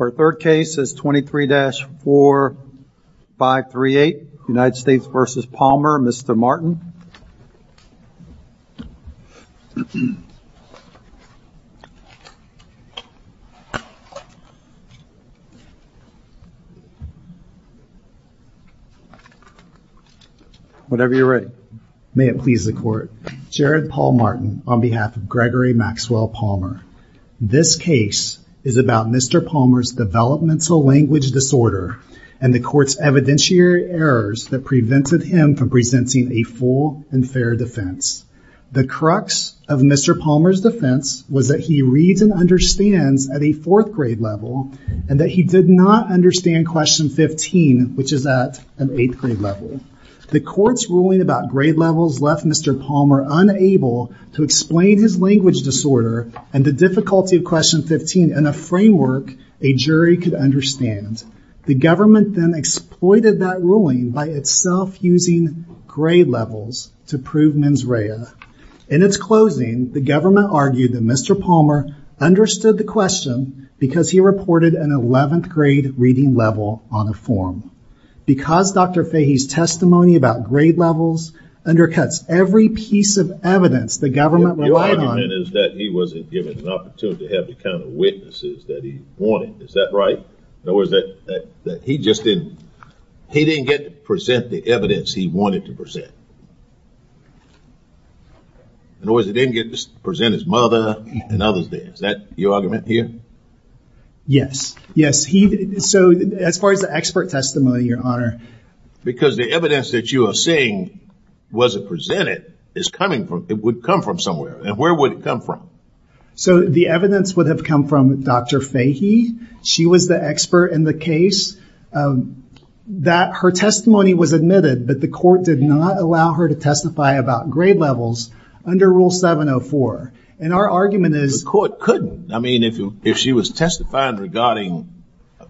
Our third case is 23-4538, United States v. Palmer, Mr. Martin. Whatever you're ready. May it please the court. Jared Paul Martin on behalf of Gregory Maxwell Palmer. This case is about Mr. Palmer's developmental language disorder and the court's evidentiary errors that prevented him from presenting a full and fair defense. The crux of Mr. Palmer's defense was that he reads and understands at a fourth grade level and that he did not understand question 15, which is at an eighth grade level. The court's ruling about grade levels left Mr. Palmer unable to explain his language disorder and the difficulty of question 15 in a framework a jury could understand. The government then exploited that ruling by itself using grade levels to prove mens In its closing, the government argued that Mr. Palmer understood the question because he reported an 11th grade reading level on a form. Because Dr. Fahey's testimony about grade levels undercuts every piece of evidence the government relied on. The argument is that he wasn't given an opportunity to have the kind of witnesses that he wanted. Is that right? In other words, that he just didn't, he didn't get to present the evidence he wanted to present. In other words, he didn't get to present his mother and others did. Is that your argument here? Yes. Yes. So as far as the expert testimony, your honor. Because the evidence that you are saying wasn't presented is coming from, it would come from somewhere. And where would it come from? So the evidence would have come from Dr. Fahey. She was the expert in the case that her testimony was admitted, but the court did not allow her to testify about grade levels under rule 704. And our argument is. The court couldn't. I mean, if you, if she was testifying regarding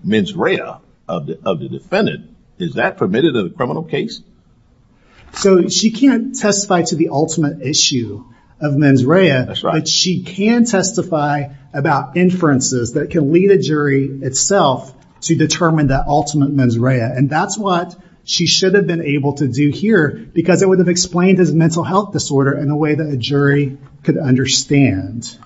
mens rea of the defendant, is that permitted in a criminal case? So she can't testify to the ultimate issue of mens rea, but she can testify about inferences that can lead a jury itself to determine that ultimate mens rea. And that's what she should have been able to do here because it would have explained his mental health disorder in a way that a jury could understand.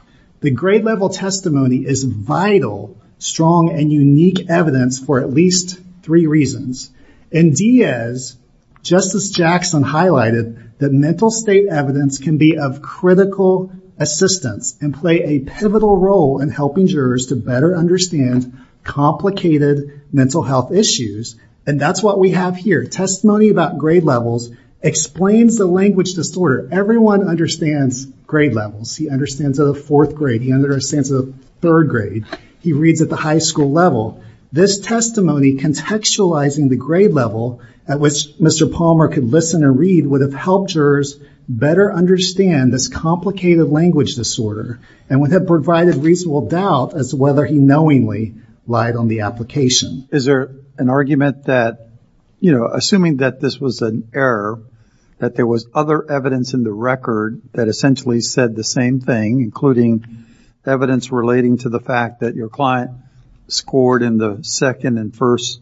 The grade level testimony is vital, strong, and unique evidence for at least three reasons. In Diaz, Justice Jackson highlighted that mental state evidence can be of critical assistance and play a pivotal role in helping jurors to better understand complicated mental health issues. And that's what we have here. Testimony about grade levels explains the language disorder. Everyone understands grade levels. He understands the fourth grade. He understands the third grade. He reads at the high school level. This testimony contextualizing the grade level at which Mr. Palmer could listen and read would have helped jurors better understand this complicated language disorder and would have provided reasonable doubt as to whether he knowingly lied on the application. Is there an argument that, you know, assuming that this was an error, that there was other evidence in the record that essentially said the same thing, including evidence relating to the fact that your client scored in the second and first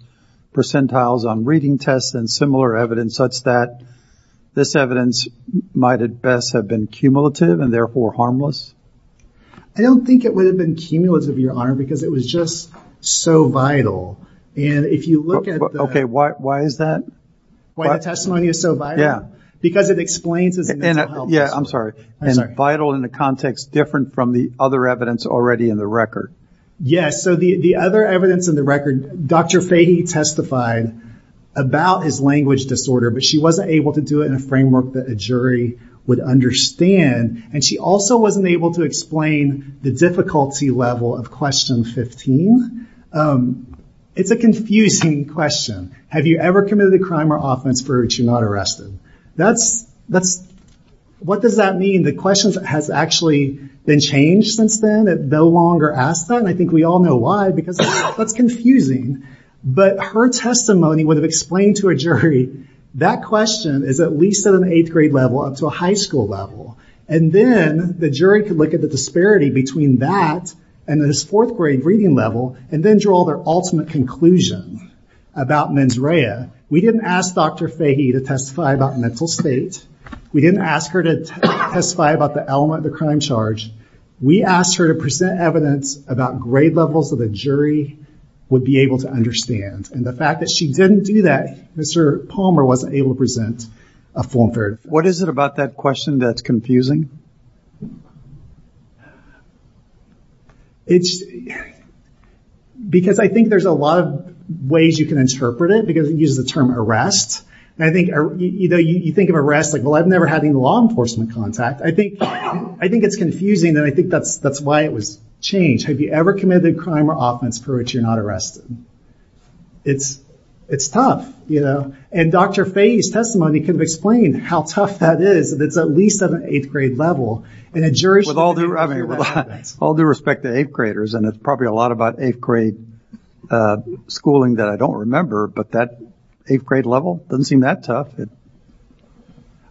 percentiles on reading tests and similar evidence such that this evidence might at best have been cumulative and therefore harmless? I don't think it would have been cumulative, Your Honor, because it was just so vital. And if you look at the... Okay, why is that? Why the testimony is so vital? Yeah, because it explains it's... Yeah, I'm sorry. It's vital in a context different from the other evidence already in the record. Yes, so the other evidence in the record, Dr. Fahey testified about his language disorder, but she wasn't able to do it in a framework that a jury would understand. And she also wasn't able to explain the difficulty level of question 15. It's a confusing question. Have you ever committed a crime or offense for which you're not arrested? What does that mean? The question has actually been changed since then. It no longer asks that, and I think we all know why, because that's confusing. But her testimony would have explained to a jury that question is at least at an eighth grade level up to a high school level. And then the jury could look at the disparity between that and this fourth grade reading level, and then draw their ultimate conclusion about mens rea. We didn't ask Dr. Fahey to testify about mental state. We didn't ask her to testify about the element of the crime charge. We asked her to present evidence about grade levels that a jury would be able to understand. And the fact that she didn't do that, Mr. Palmer wasn't able to present a form for it. What is it about that question that's confusing? Because I think there's a lot of ways you can interpret it, because it uses the term arrest. And I think you think of arrest like, well, I've never had any law enforcement contact. I think it's confusing, and I think that's why it was changed. Have you ever committed a crime or offense for which you're not arrested? It's tough. And Dr. Fahey's testimony could have explained how tough that is, that it's at least at an eighth grade level. And a jury should have been able to do that. With all due respect to eighth graders, and it's probably a lot about eighth grade schooling that I don't remember, but that eighth grade level doesn't seem that tough.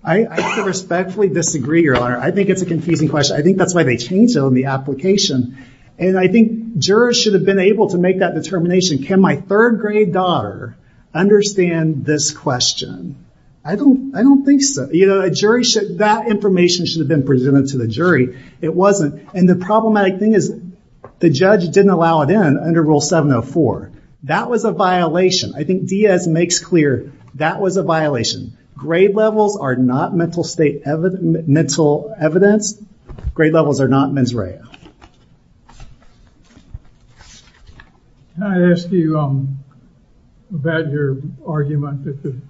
I respectfully disagree, Your Honor. I think it's a confusing question. I think that's why they changed it on the application. And I think jurors should have been able to make that determination. Can my third grade daughter understand this question? I don't think so. That information should have been presented to the jury. It wasn't. And the problematic thing is the judge didn't allow it in under Rule 704. That was a violation. I think Diaz makes clear that was a violation. Grade levels are not mental evidence. Grade levels are not mens rea. Can I ask you about your argument that the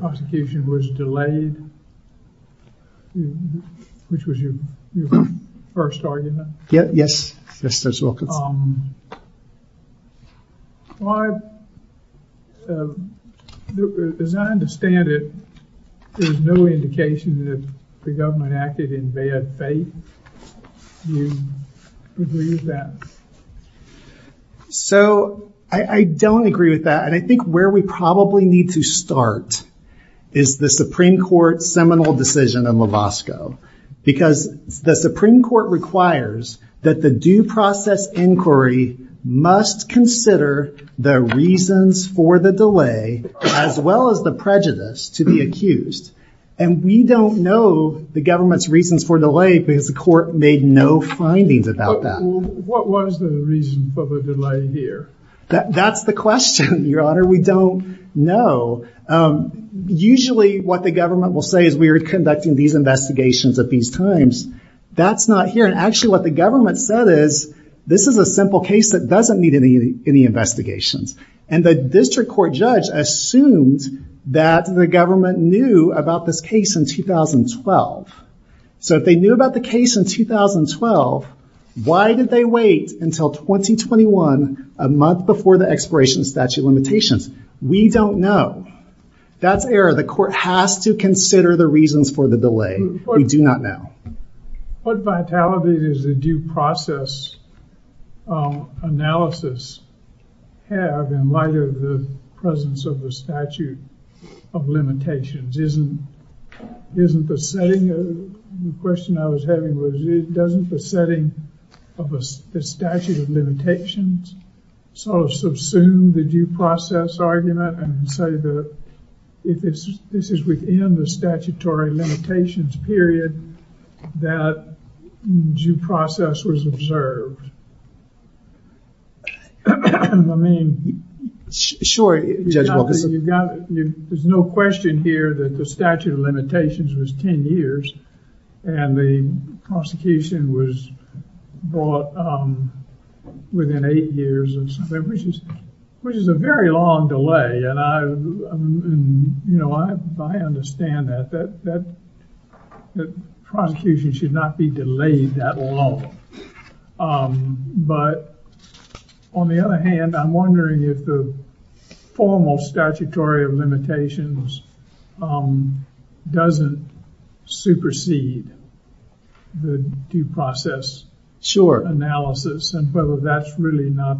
prosecution was delayed? Which was your first argument? Yes. Yes. As I understand it, there's no indication that the government acted in bad faith. Do you agree with that? So I don't agree with that, and I think where we probably need to start is the Supreme Court seminal decision in Lovasco. Because the Supreme Court requires that the due process inquiry must consider the reasons for the delay as well as the prejudice to be accused. And we don't know the government's reasons for delay because the court made no findings about that. What was the reason for the delay here? That's the question, Your Honor. We don't know. Usually what the government will say is we're conducting these investigations at these times. That's not here. And actually what the government said is this is a simple case that doesn't need any investigations. And the district court judge assumed that the government knew about this case in 2012. So if they knew about the case in 2012, why did they wait until 2021, a month before the expiration of statute of limitations? We don't know. That's error. The court has to consider the reasons for the delay. We do not know. What vitality does the due process analysis have in light of the presence of the statute of limitations? Isn't the setting, the question I was having was, doesn't the setting of the statute of limitations sort of subsume the due process argument and say that if this is within the statutory limitations period, that due process was observed? I mean, you've got, there's no question here that the statute of limitations was 10 years and the prosecution was brought within eight years, which is a very long delay. And I, you know, I understand that, that prosecution should not be delayed that long. But on the other hand, I'm wondering if the formal statutory of limitations doesn't supersede the due process analysis and whether that's really not,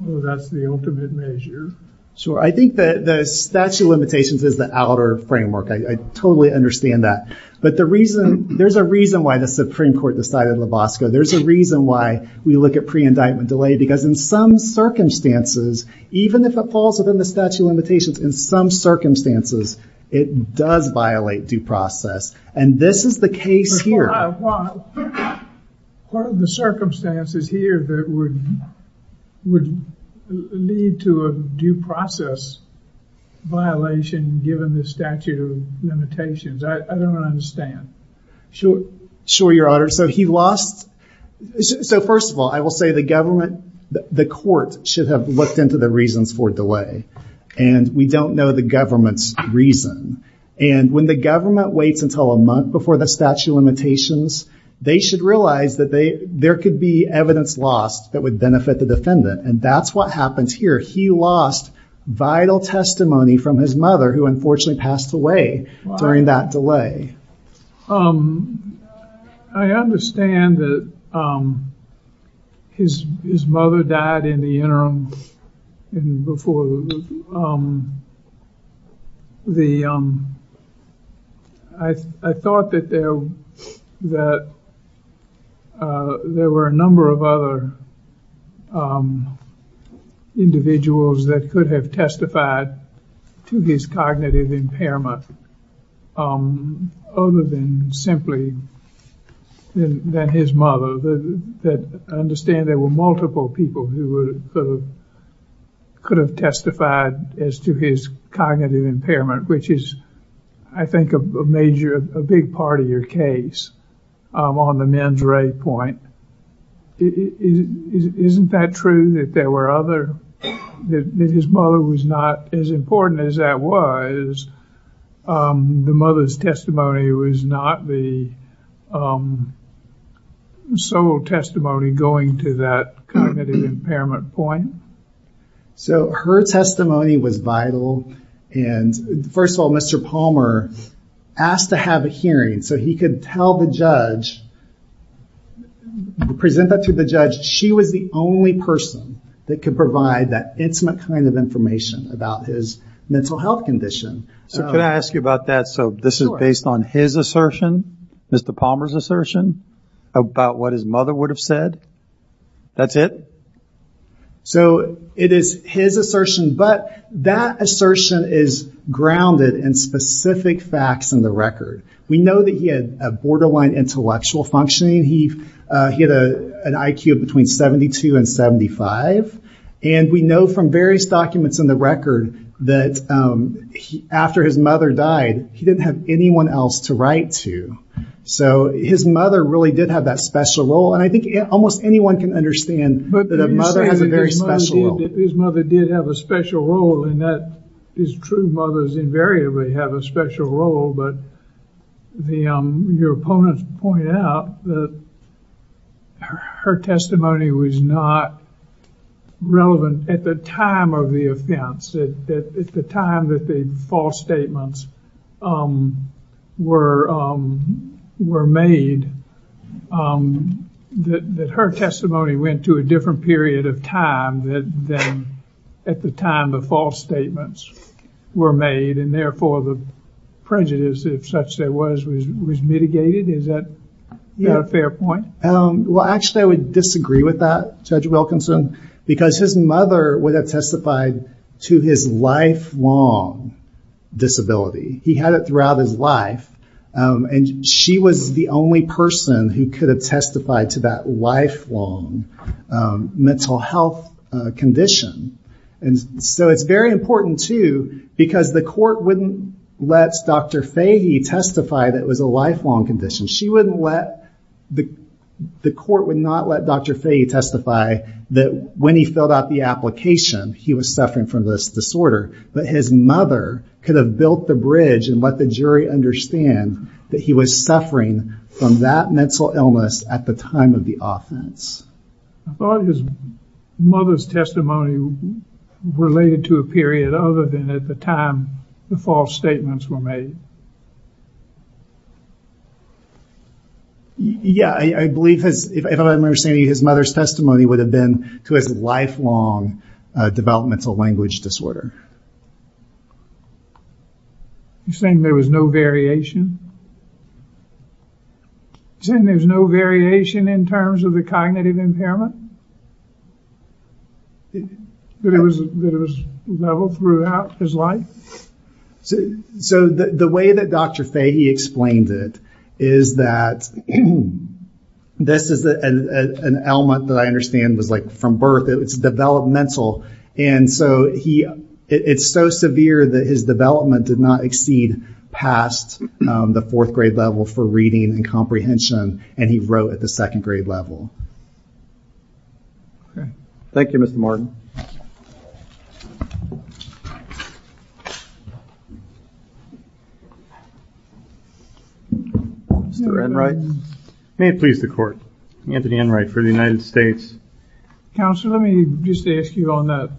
whether that's the ultimate measure. Sure. I think that the statute of limitations is the outer framework. I totally understand that. But the reason, there's a reason why the Supreme Court decided Lavosko. There's a reason why we look at pre-indictment delay, because in some circumstances, even if it falls within the statute of limitations, in some circumstances, it does violate due process. And this is the case here. Well, what are the circumstances here that would lead to a due process violation given the statute of limitations? I don't understand. Sure, Your Honor. So he lost, so first of all, I will say the government, the court should have looked into the reasons for delay. And we don't know the government's reason. And when the government waits until a month before the statute of limitations, they should realize that there could be evidence lost that would benefit the defendant. And that's what happens here. He lost vital testimony from his mother, who unfortunately passed away during that delay. I understand that his mother died in the interim before the, I thought that there were a number of other individuals that could have testified to his cognitive impairment other than simply than his mother, that I understand there were multiple people who could have testified as to his cognitive impairment, which is, I think, a major, a big part of your case on the men's array point. Isn't that true that there were other, that his mother was not as important as that was? The mother's testimony was not the sole testimony going to that cognitive impairment point? So her testimony was vital. And first of all, Mr. Palmer asked to have a hearing. So he could tell the judge, present that to the judge, she was the only person that could provide that intimate kind of information about his mental health condition. So could I ask you about that? So this is based on his assertion, Mr. Palmer's assertion, about what his mother would have said? That's it? So it is his assertion, but that assertion is grounded in specific facts in the record. We know that he had a borderline intellectual functioning. He had an IQ of between 72 and 75. And we know from various documents in the record that after his mother died, he didn't have anyone else to write to. So his mother really did have that special role. And I think almost anyone can understand that a mother has a very special role. His mother did have a special role in that. His true mother invariably have a special role. But your opponents point out that her testimony was not relevant at the time of the offense, at the time that the false statements were made, that her testimony went to a period of time that then at the time the false statements were made, and therefore the prejudice, if such there was, was mitigated. Is that a fair point? Well, actually, I would disagree with that, Judge Wilkinson, because his mother would have testified to his lifelong disability. He had it throughout his life. And she was the only person who could have testified to that lifelong mental health condition. And so it's very important, too, because the court wouldn't let Dr. Fahey testify that it was a lifelong condition. She wouldn't let, the court would not let Dr. Fahey testify that when he filled out the application, he was suffering from this disorder. But his mother could have built the bridge and let the jury understand that he was suffering from that mental illness at the time of the offense. I thought his mother's testimony related to a period other than at the time the false statements were made. Yeah, I believe, if I'm understanding you, his mother's testimony would have been to his lifelong developmental language disorder. You're saying there was no variation? You're saying there's no variation in terms of the cognitive impairment? That it was level throughout his life? So the way that Dr. Fahey explained it is that this is an element that I understand was like from birth. It's developmental. And so he, it's so severe that his development did not exceed past the fourth grade level for reading and comprehension. And he wrote at the second grade level. Thank you, Mr. Martin. Mr. Enright. May it please the court, Anthony Enright for the United States. Counselor, let me just ask you on that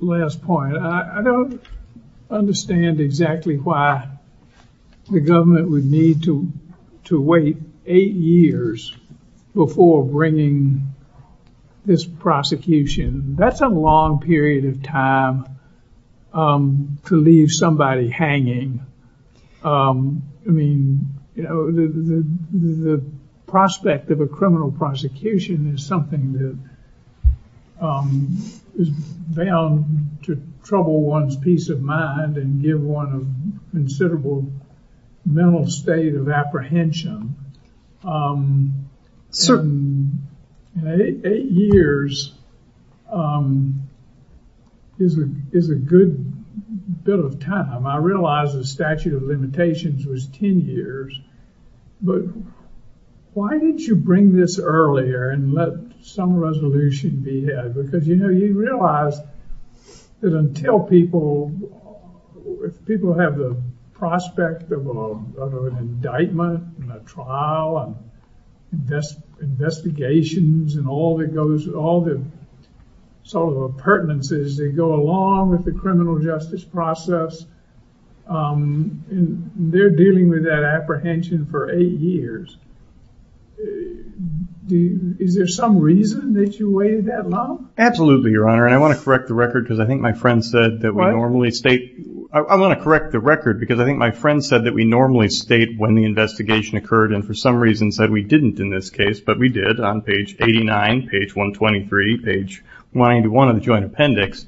last point. I don't understand exactly why the government would need to wait eight years before bringing this prosecution. That's a long period of time to leave somebody hanging. I mean, you know, the prospect of a criminal prosecution is something that is bound to trouble one's peace of mind and give one a considerable mental state of apprehension. Eight years is a good bit of time. I realize the statute of limitations was 10 years. But why didn't you bring this earlier and let some resolution be had? Because, you know, you realize that until people, if people have the prospect of an indictment and a trial and investigations and all that goes, all the sort of appurtenances that go along with the criminal justice process, and they're dealing with that apprehension for eight years. Is there some reason that you waited that long? Absolutely, Your Honor. And I want to correct the record because I think my friend said that we normally state, I want to correct the record because I think my friend said that we normally state when the investigation occurred and for some reason said we didn't in this case. But we did on page 89, page 123, page 91 of the joint appendix.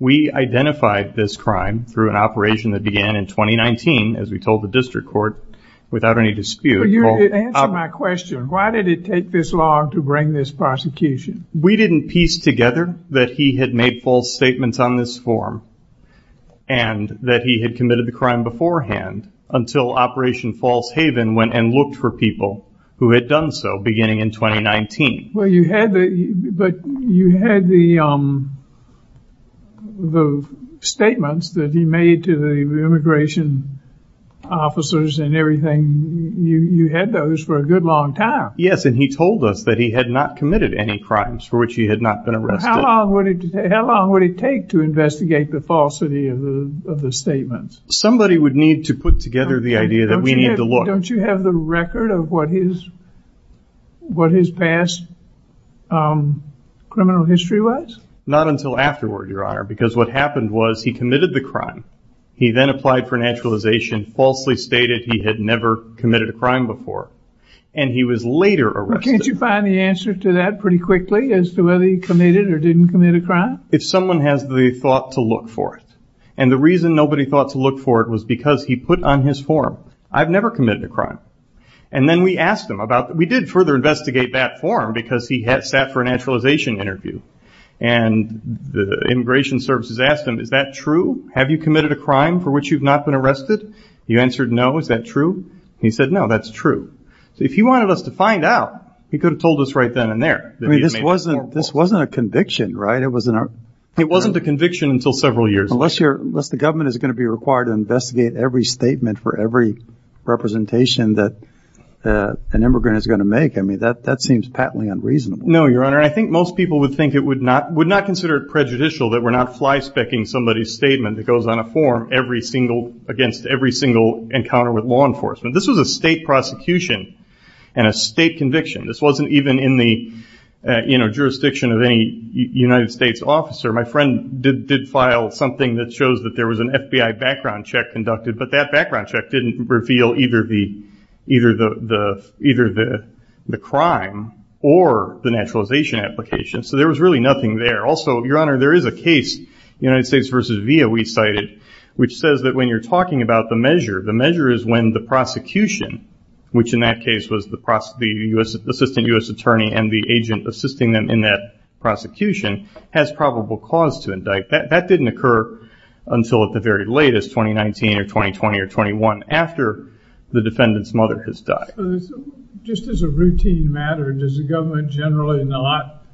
We identified this crime through an operation that began in 2019, as we told the district court, without any dispute. Answer my question. Why did it take this long to bring this prosecution? We didn't piece together that he had made false statements on this form and that he had committed the crime beforehand until Operation False Haven went and looked for people who had done so beginning in 2019. Well, you had the, but you had the, the statements that he made to the immigration officers and everything. You had those for a good long time. Yes, and he told us that he had not committed any crimes for which he had not been arrested. How long would it take to investigate the falsity of the statements? Somebody would need to put together the idea that we need to look. Don't you have the record of what his, what his past criminal history was? Not until afterward, Your Honor, because what happened was he committed the crime. He then applied for naturalization, falsely stated he had never committed a crime before, and he was later arrested. Can't you find the answer to that pretty quickly as to whether he committed or didn't commit a crime? If someone has the thought to look for it, and the reason nobody thought to look for it was because he put on his form, I've never committed a crime. And then we asked him about, we did further investigate that form because he had sat for a naturalization interview and the immigration services asked him, is that true? Have you committed a crime for which you've not been arrested? He answered, no. Is that true? He said, no, that's true. So if he wanted us to find out, he could have told us right then and there. I mean, this wasn't, this wasn't a conviction, right? It wasn't a, it wasn't a conviction until several years. Unless you're, unless the government is going to be required to investigate every statement for every representation that an immigrant is going to make. I mean, that, that seems patently unreasonable. No, Your Honor. I think most people would think it would not, would not consider it prejudicial that we're not fly specking somebody's statement that goes on a form every single, against every single encounter with law enforcement. This was a state prosecution and a state conviction. This wasn't even in the, uh, you know, jurisdiction of any United States officer. My friend did, did file something that shows that there was an FBI background check conducted, but that background check didn't reveal either the, either the, the, either the, the crime or the naturalization application. So there was really nothing there. Also, Your Honor, there is a case, United States versus VIA, we cited, which says that when you're talking about the measure, the measure is when the prosecution, which in that case was the process, the U.S., assistant U.S. attorney and the agent assisting them in that prosecution has probable cause to indict, that, that didn't occur until at the very latest, 2019 or 2020 or 21, after the defendant's mother has died. So just as a routine matter, does the government generally not,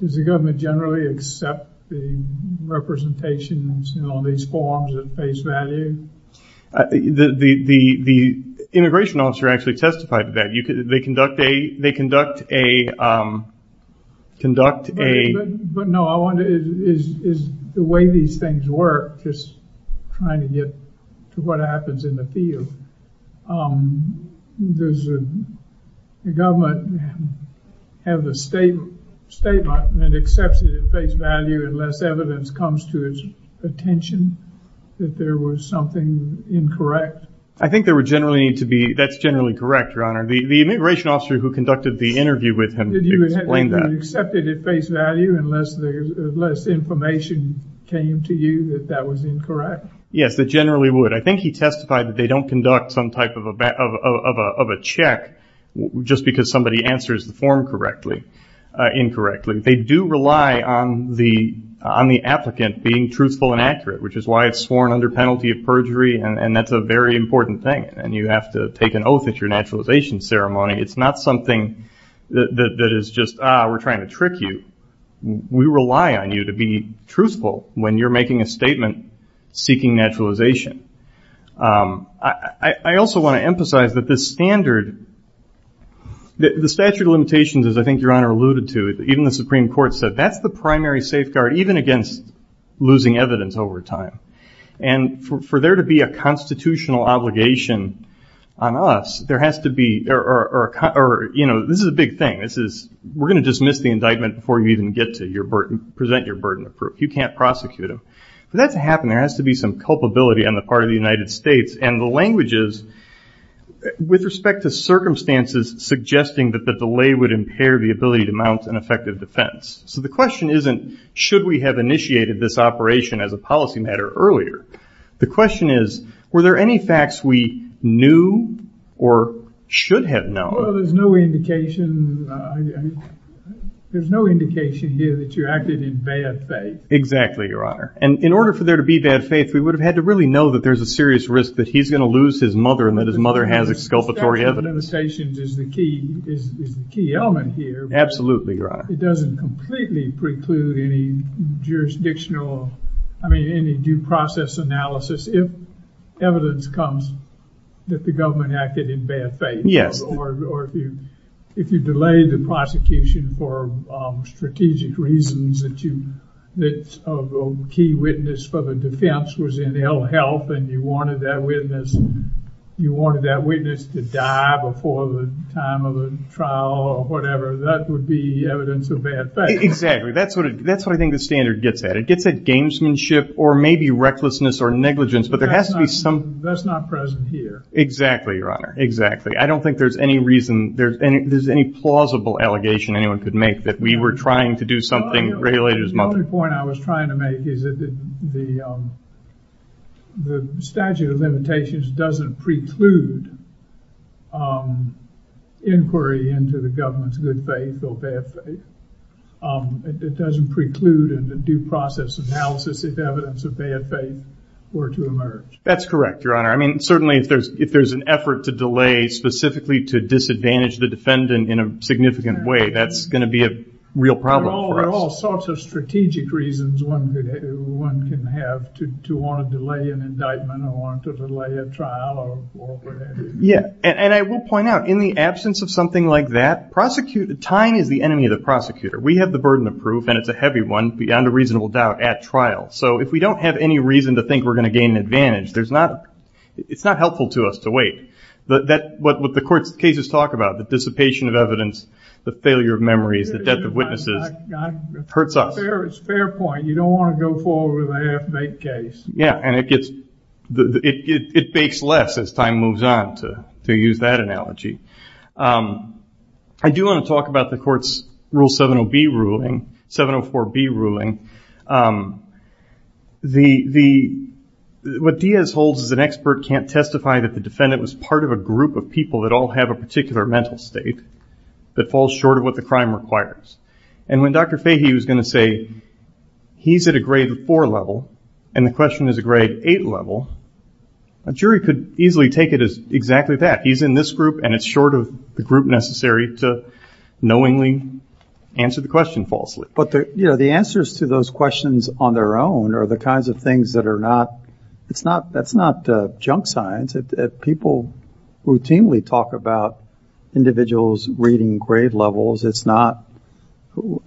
does the government generally accept the representations and all these forms of face value? The, the, the, the immigration officer actually testified to that. You could, they conduct a, they conduct a, um, conduct a- But, but no, I wonder is, is, is the way these things work, just trying to get to what happens in the field. Um, does the government have the state, statement that accepts it at face value unless evidence comes to its attention that there was something incorrect? I think there were generally need to be, that's generally correct, your honor. The, the immigration officer who conducted the interview with him, did he explain that? Did he accept it at face value unless there's, unless information came to you that that was incorrect? Yes, that generally would. I think he testified that they don't conduct some type of a, of a, of a, of a check just because somebody answers the form correctly, uh, incorrectly. They do rely on the, on the applicant being truthful and accurate, which is why it's sworn under penalty of perjury. And, and that's a very important thing. And you have to take an oath at your naturalization ceremony. It's not something that, that, that is just, ah, we're trying to trick you. We rely on you to be truthful when you're making a statement seeking naturalization. Um, I, I also want to emphasize that this standard, the statute of limitations, as I think your honor alluded to, even the Supreme Court said, that's the primary safeguard, even against losing evidence over time and for, for there to be a constitutional obligation on us, there has to be, or, or, or, or, you know, this is a big thing. This is, we're going to dismiss the indictment before you even get to your burden, present your burden of proof. You can't prosecute them. For that to happen, there has to be some culpability on the part of the United States and the languages with respect to circumstances suggesting that the delay would impair the ability to mount an effective defense. So the question isn't, should we have initiated this operation as a policy matter earlier? The question is, were there any facts we knew or should have known? Well, there's no indication. There's no indication here that you acted in bad faith. Exactly, your honor. And in order for there to be bad faith, we would have had to really know that there's a serious risk that he's going to lose his mother and that his mother has exculpatory evidence. Statement of limitations is the key, is the key element here. Absolutely, your honor. It doesn't completely preclude any jurisdictional, I mean, any due process analysis if evidence comes that the government acted in bad faith or if you, if you delay the prosecution for strategic reasons that you, that a key witness for the defense was in ill health and you wanted that witness, you wanted that witness to die before the time of the trial or whatever, that would be evidence of bad faith. Exactly. That's what, that's what I think the standard gets at. It gets at gamesmanship or maybe recklessness or negligence, but there has to be some... That's not present here. Exactly, your honor. Exactly. I don't think there's any reason there's any, there's any plausible allegation anyone could make that we were trying to do something related to his mother. The only point I was trying to make is that the statute of limitations doesn't preclude inquiry into the government's good faith or bad faith. It doesn't preclude in the due process analysis if evidence of bad faith were to That's correct, your honor. I mean, certainly if there's, if there's an effort to delay specifically to disadvantage the defendant in a significant way, that's going to be a real problem for us. There are all sorts of strategic reasons one could, one can have to want to delay an indictment or want to delay a trial or whatever that is. Yeah. And I will point out in the absence of something like that, prosecute, time is the enemy of the prosecutor. We have the burden of proof and it's a heavy one beyond a reasonable doubt at trial. So if we don't have any reason to think we're going to gain an advantage, there's not, it's not helpful to us to wait, but that what, what the court's cases talk about, the dissipation of evidence, the failure of memories, the death of witnesses hurts us. Fair, it's fair point. You don't want to go forward with a half-baked case. Yeah. And it gets, it, it, it bakes less as time moves on to, to use that analogy. I do want to talk about the court's rule 70B ruling, 704B ruling. The, the, what Diaz holds is an expert can't testify that the defendant was part of a group of people that all have a particular mental state that falls short of what the crime requires. And when Dr. Diaz is a grade four level and the question is a grade eight level, a jury could easily take it as exactly that. He's in this group and it's short of the group necessary to knowingly answer the question falsely. But the, you know, the answers to those questions on their own are the kinds of things that are not, it's not, that's not a junk science that people routinely talk about individuals reading grade levels. It's not who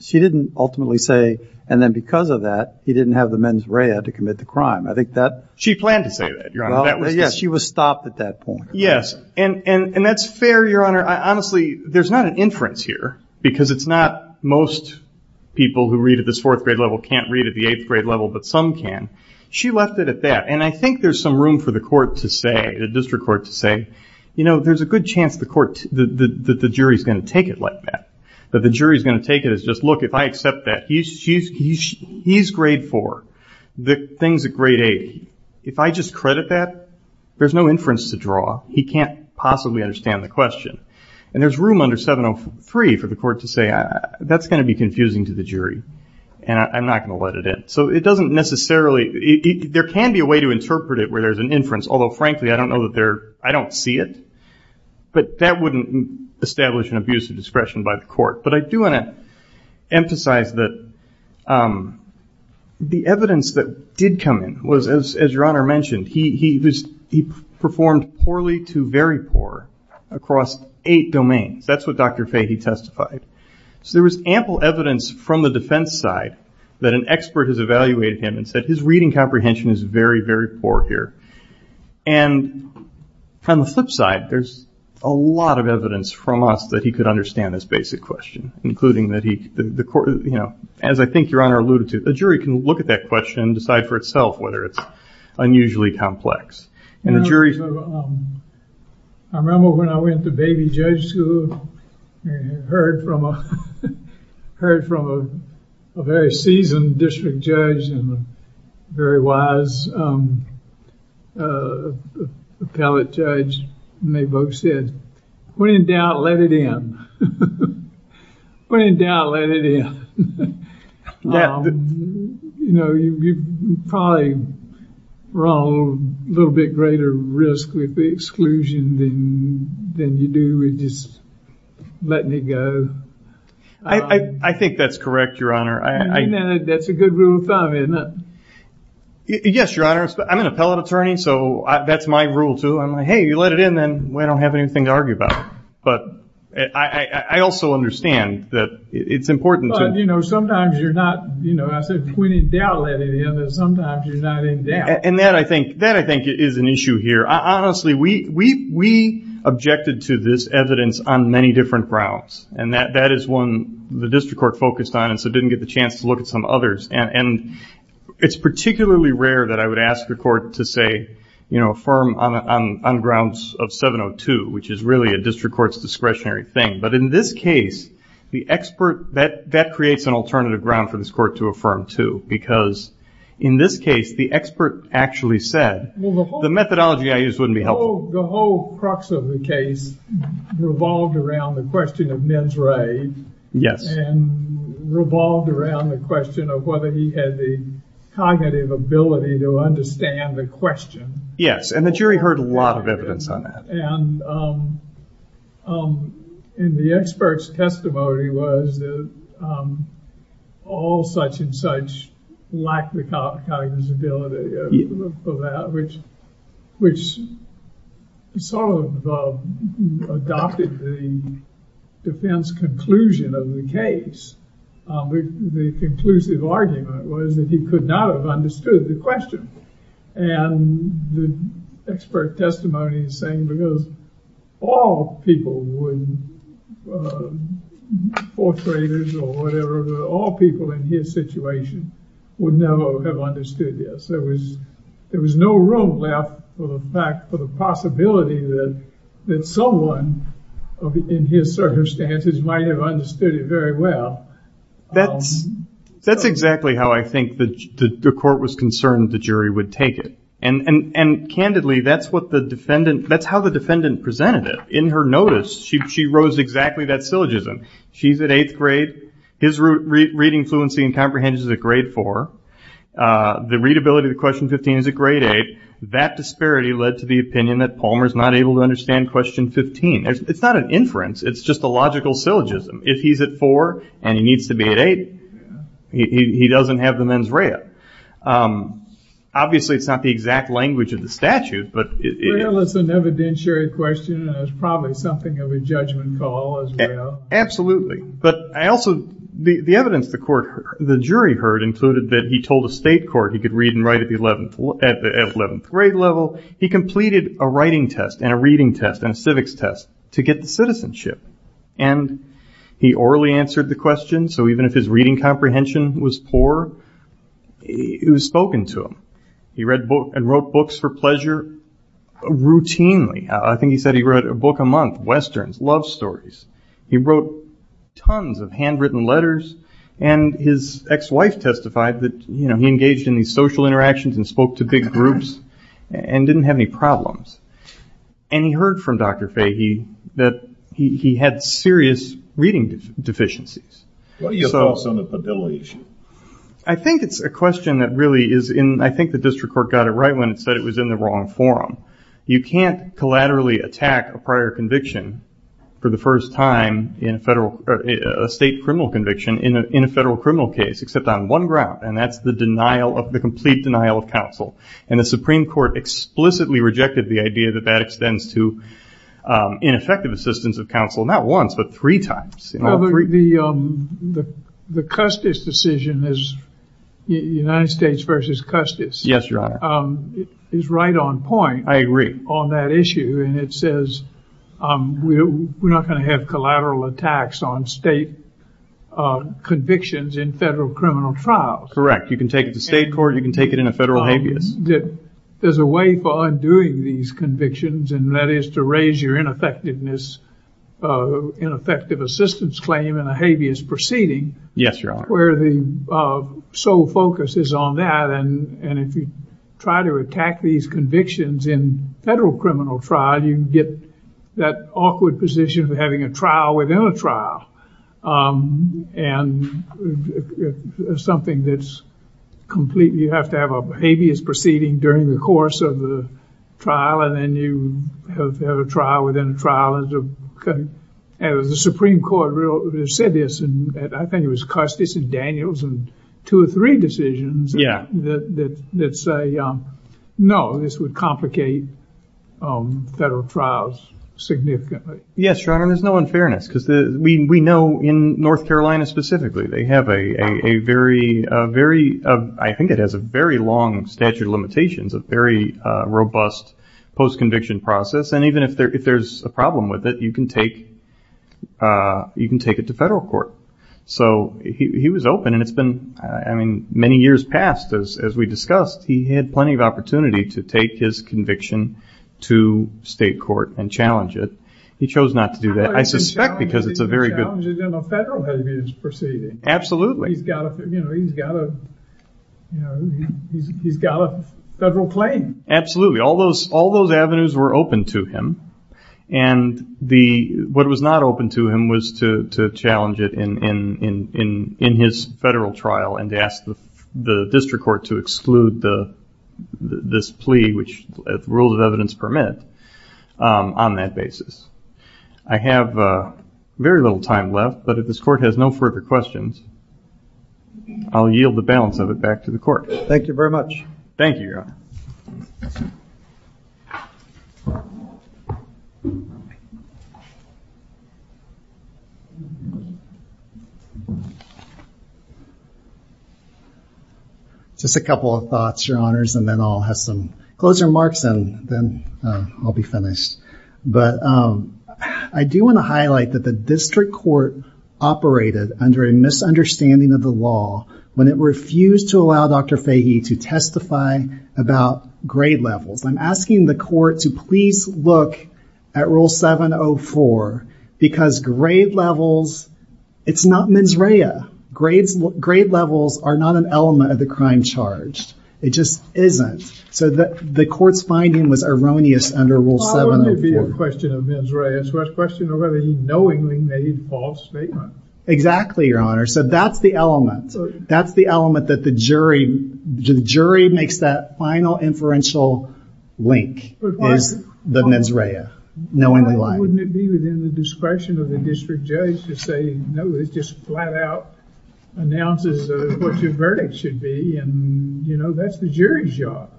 she didn't ultimately say. And then because of that, he didn't have the mens rea to commit the crime. I think that she planned to say that she was stopped at that point. Yes. And, and, and that's fair, your honor. I honestly, there's not an inference here because it's not most people who read at this fourth grade level can't read at the eighth grade level, but some can. She left it at that. And I think there's some room for the court to say, the district court to say, you know, there's a good chance the court, the jury is going to take it like that. But the jury is going to take it as just, look, if I accept that he's, she's, he's, he's grade four, the things at grade eight. If I just credit that there's no inference to draw. He can't possibly understand the question. And there's room under 703 for the court to say, that's going to be confusing to the jury and I'm not going to let it in. So it doesn't necessarily, there can be a way to interpret it where there's an inference, although frankly, I don't know that there, I don't see it, but that wouldn't establish an abuse of discretion by the court. But I do want to emphasize that the evidence that did come in was as, as your honor mentioned, he, he was, he performed poorly to very poor across eight domains. That's what Dr. Fahey testified. So there was ample evidence from the defense side that an expert has evaluated him and said, his reading comprehension is very, very poor here. And from the flip side, there's a lot of evidence from us that he could understand this basic question, including that he, the court, you know, as I think your honor alluded to, the jury can look at that question and decide for itself, whether it's unusually complex and the jury. I remember when I went to baby judge school, heard from a, heard from a very seasoned district judge and a very wise appellate judge, and they both said, when in doubt, let it in. When in doubt, let it in. You know, you probably run a little bit greater risk with the exclusion than, than you do with just letting it go. I think that's correct, your honor. That's a good rule of thumb, isn't it? Yes, your honor. I'm an appellate attorney. So that's my rule too. I'm like, Hey, you let it in. Then we don't have anything to argue about. But I also understand that it's important to, you know, sometimes you're not, you know, I said, when in doubt, let it in, but sometimes you're not in doubt. And that, I think, that I think is an issue here. I honestly, we, we, we objected to this evidence on many different grounds and that, that is one the district court focused on and so didn't get the chance to look at some others. And it's particularly rare that I would ask the court to say, you know, affirm on grounds of 702, which is really a district court's discretionary thing. But in this case, the expert, that, that creates an alternative ground for this court to affirm too, because in this case, the expert actually said, the methodology I use wouldn't be helpful. The whole crux of the case revolved around the question of men's right. And revolved around the question of whether he had the cognitive ability to understand the question. Yes. And the jury heard a lot of evidence on that. And, and the expert's testimony was that, all such and such lack the cognizability of that, which, which sort of adopted the defense conclusion of the case, the conclusive argument was that he could not have understood the question and the expert testimony is saying because all people would, fourth understood this, there was, there was no room left for the fact, for the possibility that, that someone in his circumstances might have understood it very well. That's, that's exactly how I think the, the court was concerned the jury would take it. And, and, and candidly, that's what the defendant, that's how the defendant presented it. In her notice, she, she rose exactly that syllogism. She's at eighth grade, his reading fluency and comprehension is at grade four, the readability of the question 15 is at grade eight. That disparity led to the opinion that Palmer's not able to understand question 15. It's not an inference. It's just a logical syllogism. If he's at four and he needs to be at eight, he doesn't have the mens rea. Obviously it's not the exact language of the statute, but it's an evidentiary question and it's probably something of a judgment call as well. But I also, the, the evidence the court, the jury heard included that he told a state court he could read and write at the 11th, at the 11th grade level. He completed a writing test and a reading test and a civics test to get the citizenship. And he orally answered the question. So even if his reading comprehension was poor, it was spoken to him. He read books and wrote books for pleasure routinely. I think he said he read a book a month, Westerns, love stories. He wrote tons of handwritten letters and his ex-wife testified that, you know, he engaged in these social interactions and spoke to big groups and didn't have any And he heard from Dr. Fahey that he had serious reading deficiencies. What are your thoughts on the pavilion? I think it's a question that really is in, I think the district court got it right when it said it was in the wrong forum. You can't collaterally attack a prior conviction for the first time in a federal or a state criminal conviction in a, in a federal criminal case, except on one ground. And that's the denial of the complete denial of counsel. And the Supreme Court explicitly rejected the idea that that extends to ineffective assistance of counsel. Not once, but three times. The, the, the Custis decision is United States versus Custis. Yes, Your Honor. Is right on point. I agree. On that issue. And it says we're not going to have collateral attacks on state convictions in federal criminal trials. Correct. You can take it to state court. You can take it in a federal habeas. There's a way for undoing these convictions and that is to raise your ineffectiveness, ineffective assistance claim in a habeas proceeding. Yes, Your Honor. Where the sole focus is on that. And if you try to attack these convictions in federal criminal trial, you get that awkward position of having a trial within a trial. And something that's completely, you have to have a habeas proceeding during the course of the trial. And then you have to have a trial within a trial. And the Supreme Court said this, and I think it was Custis and Daniels and two or three decisions. Yeah. That say, no, this would complicate federal trials significantly. Yes, Your Honor, there's no unfairness because we know in North Carolina specifically, they have a very, very, I think it has a very long statute of limitations, a very robust post-conviction process. And even if there's a problem with it, you can take it to federal court. So he was open and it's been, I mean, many years past as we discussed, he had plenty of opportunity to take his conviction to state court and challenge it. He chose not to do that. I suspect because it's a very good- He's going to challenge it in a federal habeas proceeding. Absolutely. He's got a federal claim. Absolutely. All those avenues were open to him. And the, what was not open to him was to challenge it in his federal trial and to ask the district court to exclude this plea, which rules of evidence permit, on that basis. I have very little time left, but if this court has no further questions, I'll yield the balance of it back to the court. Thank you very much. Thank you, Your Honor. Just a couple of thoughts, Your Honors, and then I'll have some closing remarks and then I'll be finished. But I do want to highlight that the district court operated under a misunderstanding of the law when it refused to allow Dr. Fahey to testify about grade levels. I'm asking the court to please look at rule 704 because grade levels, it's not mens rea, grade levels are not an element of the crime charged. It just isn't. So the court's finding was erroneous under rule 704. I won't give you a question of mens rea. It's a question of whether he knowingly made a false statement. Exactly, Your Honor. So that's the element. That's the element that the jury, the jury makes that final inferential link is the mens rea, knowingly lying. Wouldn't it be within the discretion of the district judge to say, no, it's just flat out announces what your verdict should be and that's the jury's job.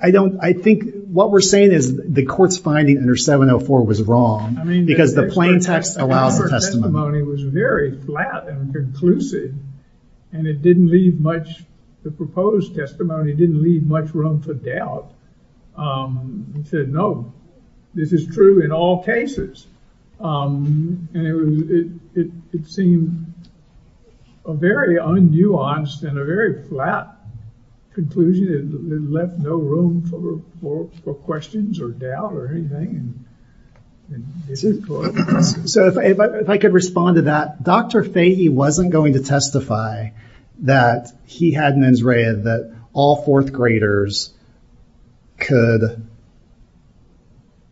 I don't, I think what we're saying is the court's finding under 704 was wrong because the plain text allows the testimony. The testimony was very flat and conclusive and it didn't leave much, the proposed testimony didn't leave much room for doubt. Um, he said, no, this is true in all cases. Um, and it was, it, it, it seemed a very un-nuanced and a very flat conclusion. It left no room for, for questions or doubt or anything. So if I, if I could respond to that, Dr. Fahey wasn't going to testify that he had mens rea that all fourth graders could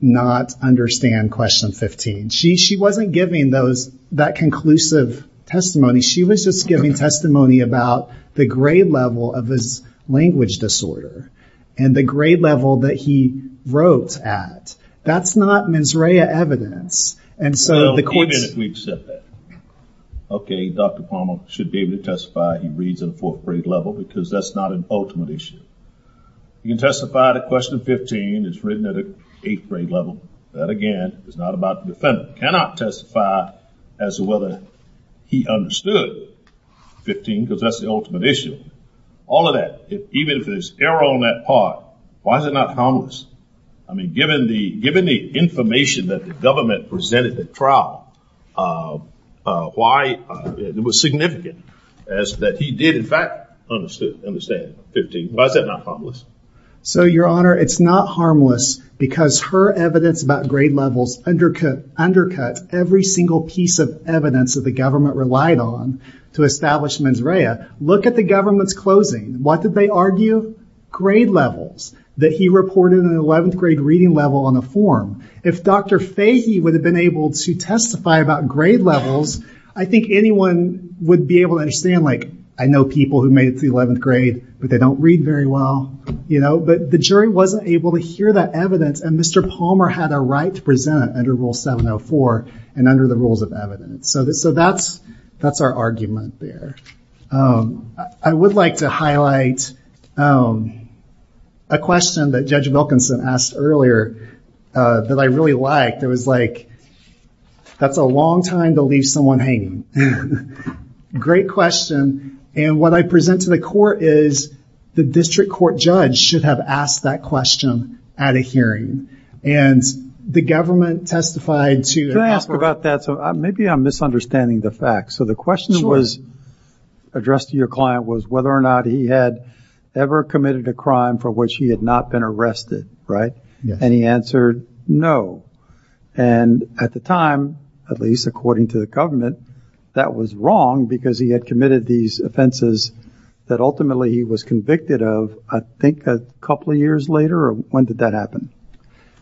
not understand question 15. She, she wasn't giving those, that conclusive testimony. She was just giving testimony about the grade level of his language disorder and the grade level that he wrote at. That's not mens rea evidence. And so the court said that, okay, Dr. Palmer should be able to testify. He reads at a fourth grade level because that's not an ultimate issue. You can testify to question 15. It's written at an eighth grade level. That again, is not about the defendant. Cannot testify as to whether he understood 15 because that's the ultimate issue. All of that, even if there's error on that part, why is it not harmless? I mean, given the, given the information that the government presented at trial why it was significant as that he did in fact, understood, understand 15. Why is that not harmless? So your honor, it's not harmless because her evidence about grade levels undercut, undercut every single piece of evidence that the government relied on to establish mens rea. Look at the government's closing. What did they argue? Grade levels that he reported in an 11th grade reading level on a form. If Dr. Fahey would have been able to testify about grade levels, I think anyone would be able to understand, like, I know people who made it to the 11th grade, but they don't read very well, you know, but the jury wasn't able to hear that evidence. And Mr. Palmer had a right to present under rule 704 and under the rules of evidence. So that's, that's our argument there. Um, I would like to highlight, um, a question that judge Wilkinson asked earlier, uh, that I really liked. It was like, that's a long time to leave someone hanging. Great question. And what I present to the court is the district court judge should have asked that question at a hearing. And the government testified to that. Can I ask about that? So maybe I'm misunderstanding the facts. So the question was addressed to your client was whether or not he had ever committed a crime for which he had not been arrested, right? And he answered no. And at the time, at least according to the government, that was wrong because he had committed these offenses that ultimately he was convicted of, I think a couple of years later, or when did that happen?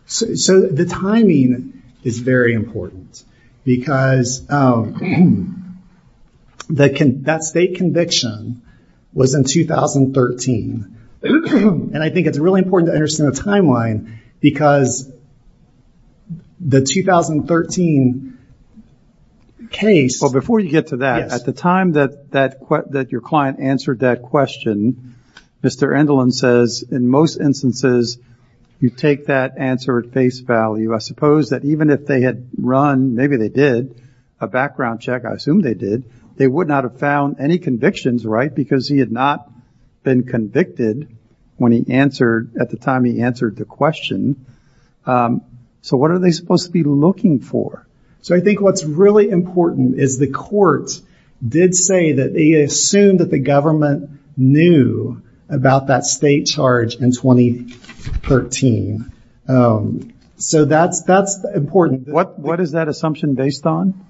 So, so the timing is very important because, um, that can, that state conviction was in 2013 and I think it's really important to understand the timeline because the 2013 case. Well, before you get to that, at the time that, that, that your client answered that question, Mr. says in most instances, you take that answer at face value. I suppose that even if they had run, maybe they did a background check, I assume they did, they would not have found any convictions, right? Because he had not been convicted when he answered at the time he answered the question. Um, so what are they supposed to be looking for? So I think what's really important is the courts did say that they assumed that the government knew about that state charge in 2013. Um, so that's, that's important. What, what is that assumption based on?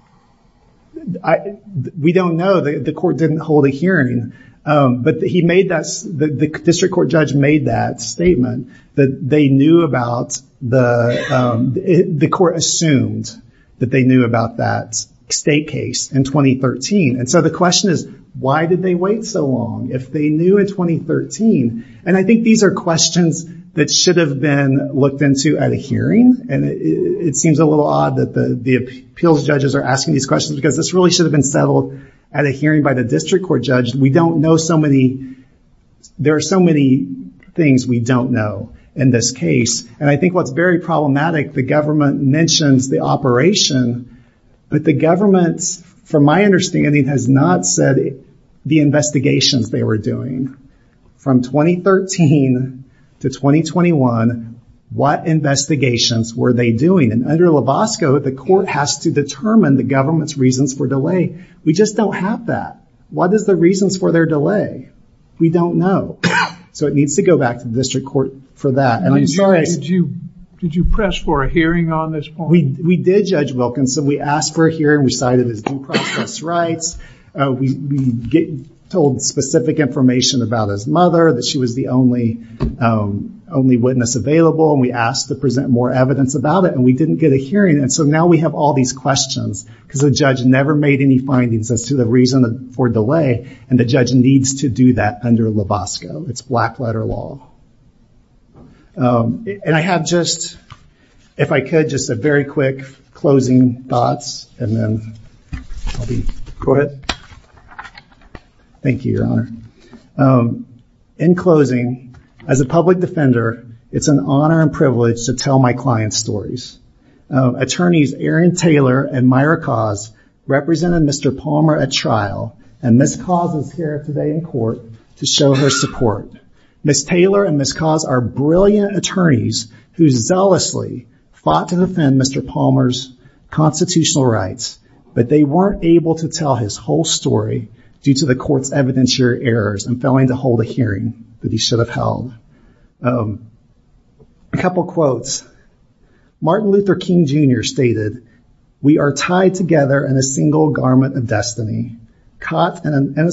I, we don't know that the court didn't hold a hearing. Um, but he made that, the district court judge made that statement that they knew about the, um, the court assumed that they knew about that state case in 2013. And so the question is, why did they wait so long if they knew in 2013? And I think these are questions that should have been looked into at a hearing. And it seems a little odd that the appeals judges are asking these questions because this really should have been settled at a hearing by the district court judge. We don't know so many, there are so many things we don't know in this case. And I think what's very problematic, the government mentions the operation, but the government, from my understanding, has not said the investigations they were doing. From 2013 to 2021, what investigations were they doing? And under LaBosco, the court has to determine the government's reasons for delay. We just don't have that. What is the reasons for their delay? We don't know. So it needs to go back to the district court for that. And I'm sorry. Did you, did you press for a hearing on this point? We did, Judge Wilkinson. We asked for a hearing, we cited his due process rights, we told specific information about his mother, that she was the only, only witness available. And we asked to present more evidence about it and we didn't get a hearing. And so now we have all these questions because the judge never made any findings as to the reason for delay. And the judge needs to do that under LaBosco, it's black letter law. And I have just, if I could, just a very quick closing thoughts and then I'll be. Thank you, Your Honor. In closing, as a public defender, it's an honor and privilege to tell my client's stories. Attorneys Erin Taylor and Myra Cause represented Mr. Palmer at trial and Ms. Cause is here today in court to show her support. Ms. Taylor and Ms. Cause are brilliant attorneys who zealously fought to defend Mr. Palmer's constitutional rights, but they weren't able to tell his whole story due to the court's evidentiary errors and failing to hold a hearing that he should have held. A couple of quotes, Martin Luther King Jr. stated, we are tied together in a single garment of destiny, caught in an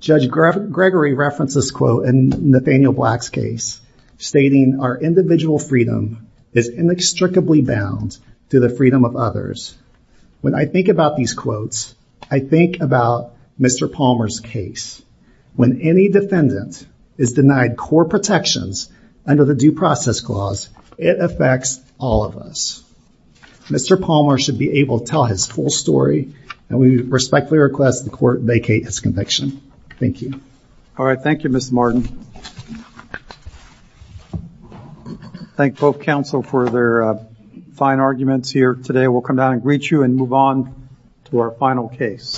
Judge Gregory referenced this quote in Nathaniel Black's case, stating our individual freedom is inextricably bound to the freedom of others. When I think about these quotes, I think about Mr. Palmer's case. When any defendant is denied core protections under the due process clause, it affects all of us. Mr. Palmer should be able to tell his full story and we respectfully request the court vacate his conviction. Thank you. All right. Thank you, Mr. Thank both counsel for their fine arguments here today. We'll come down and greet you and move on to our final case.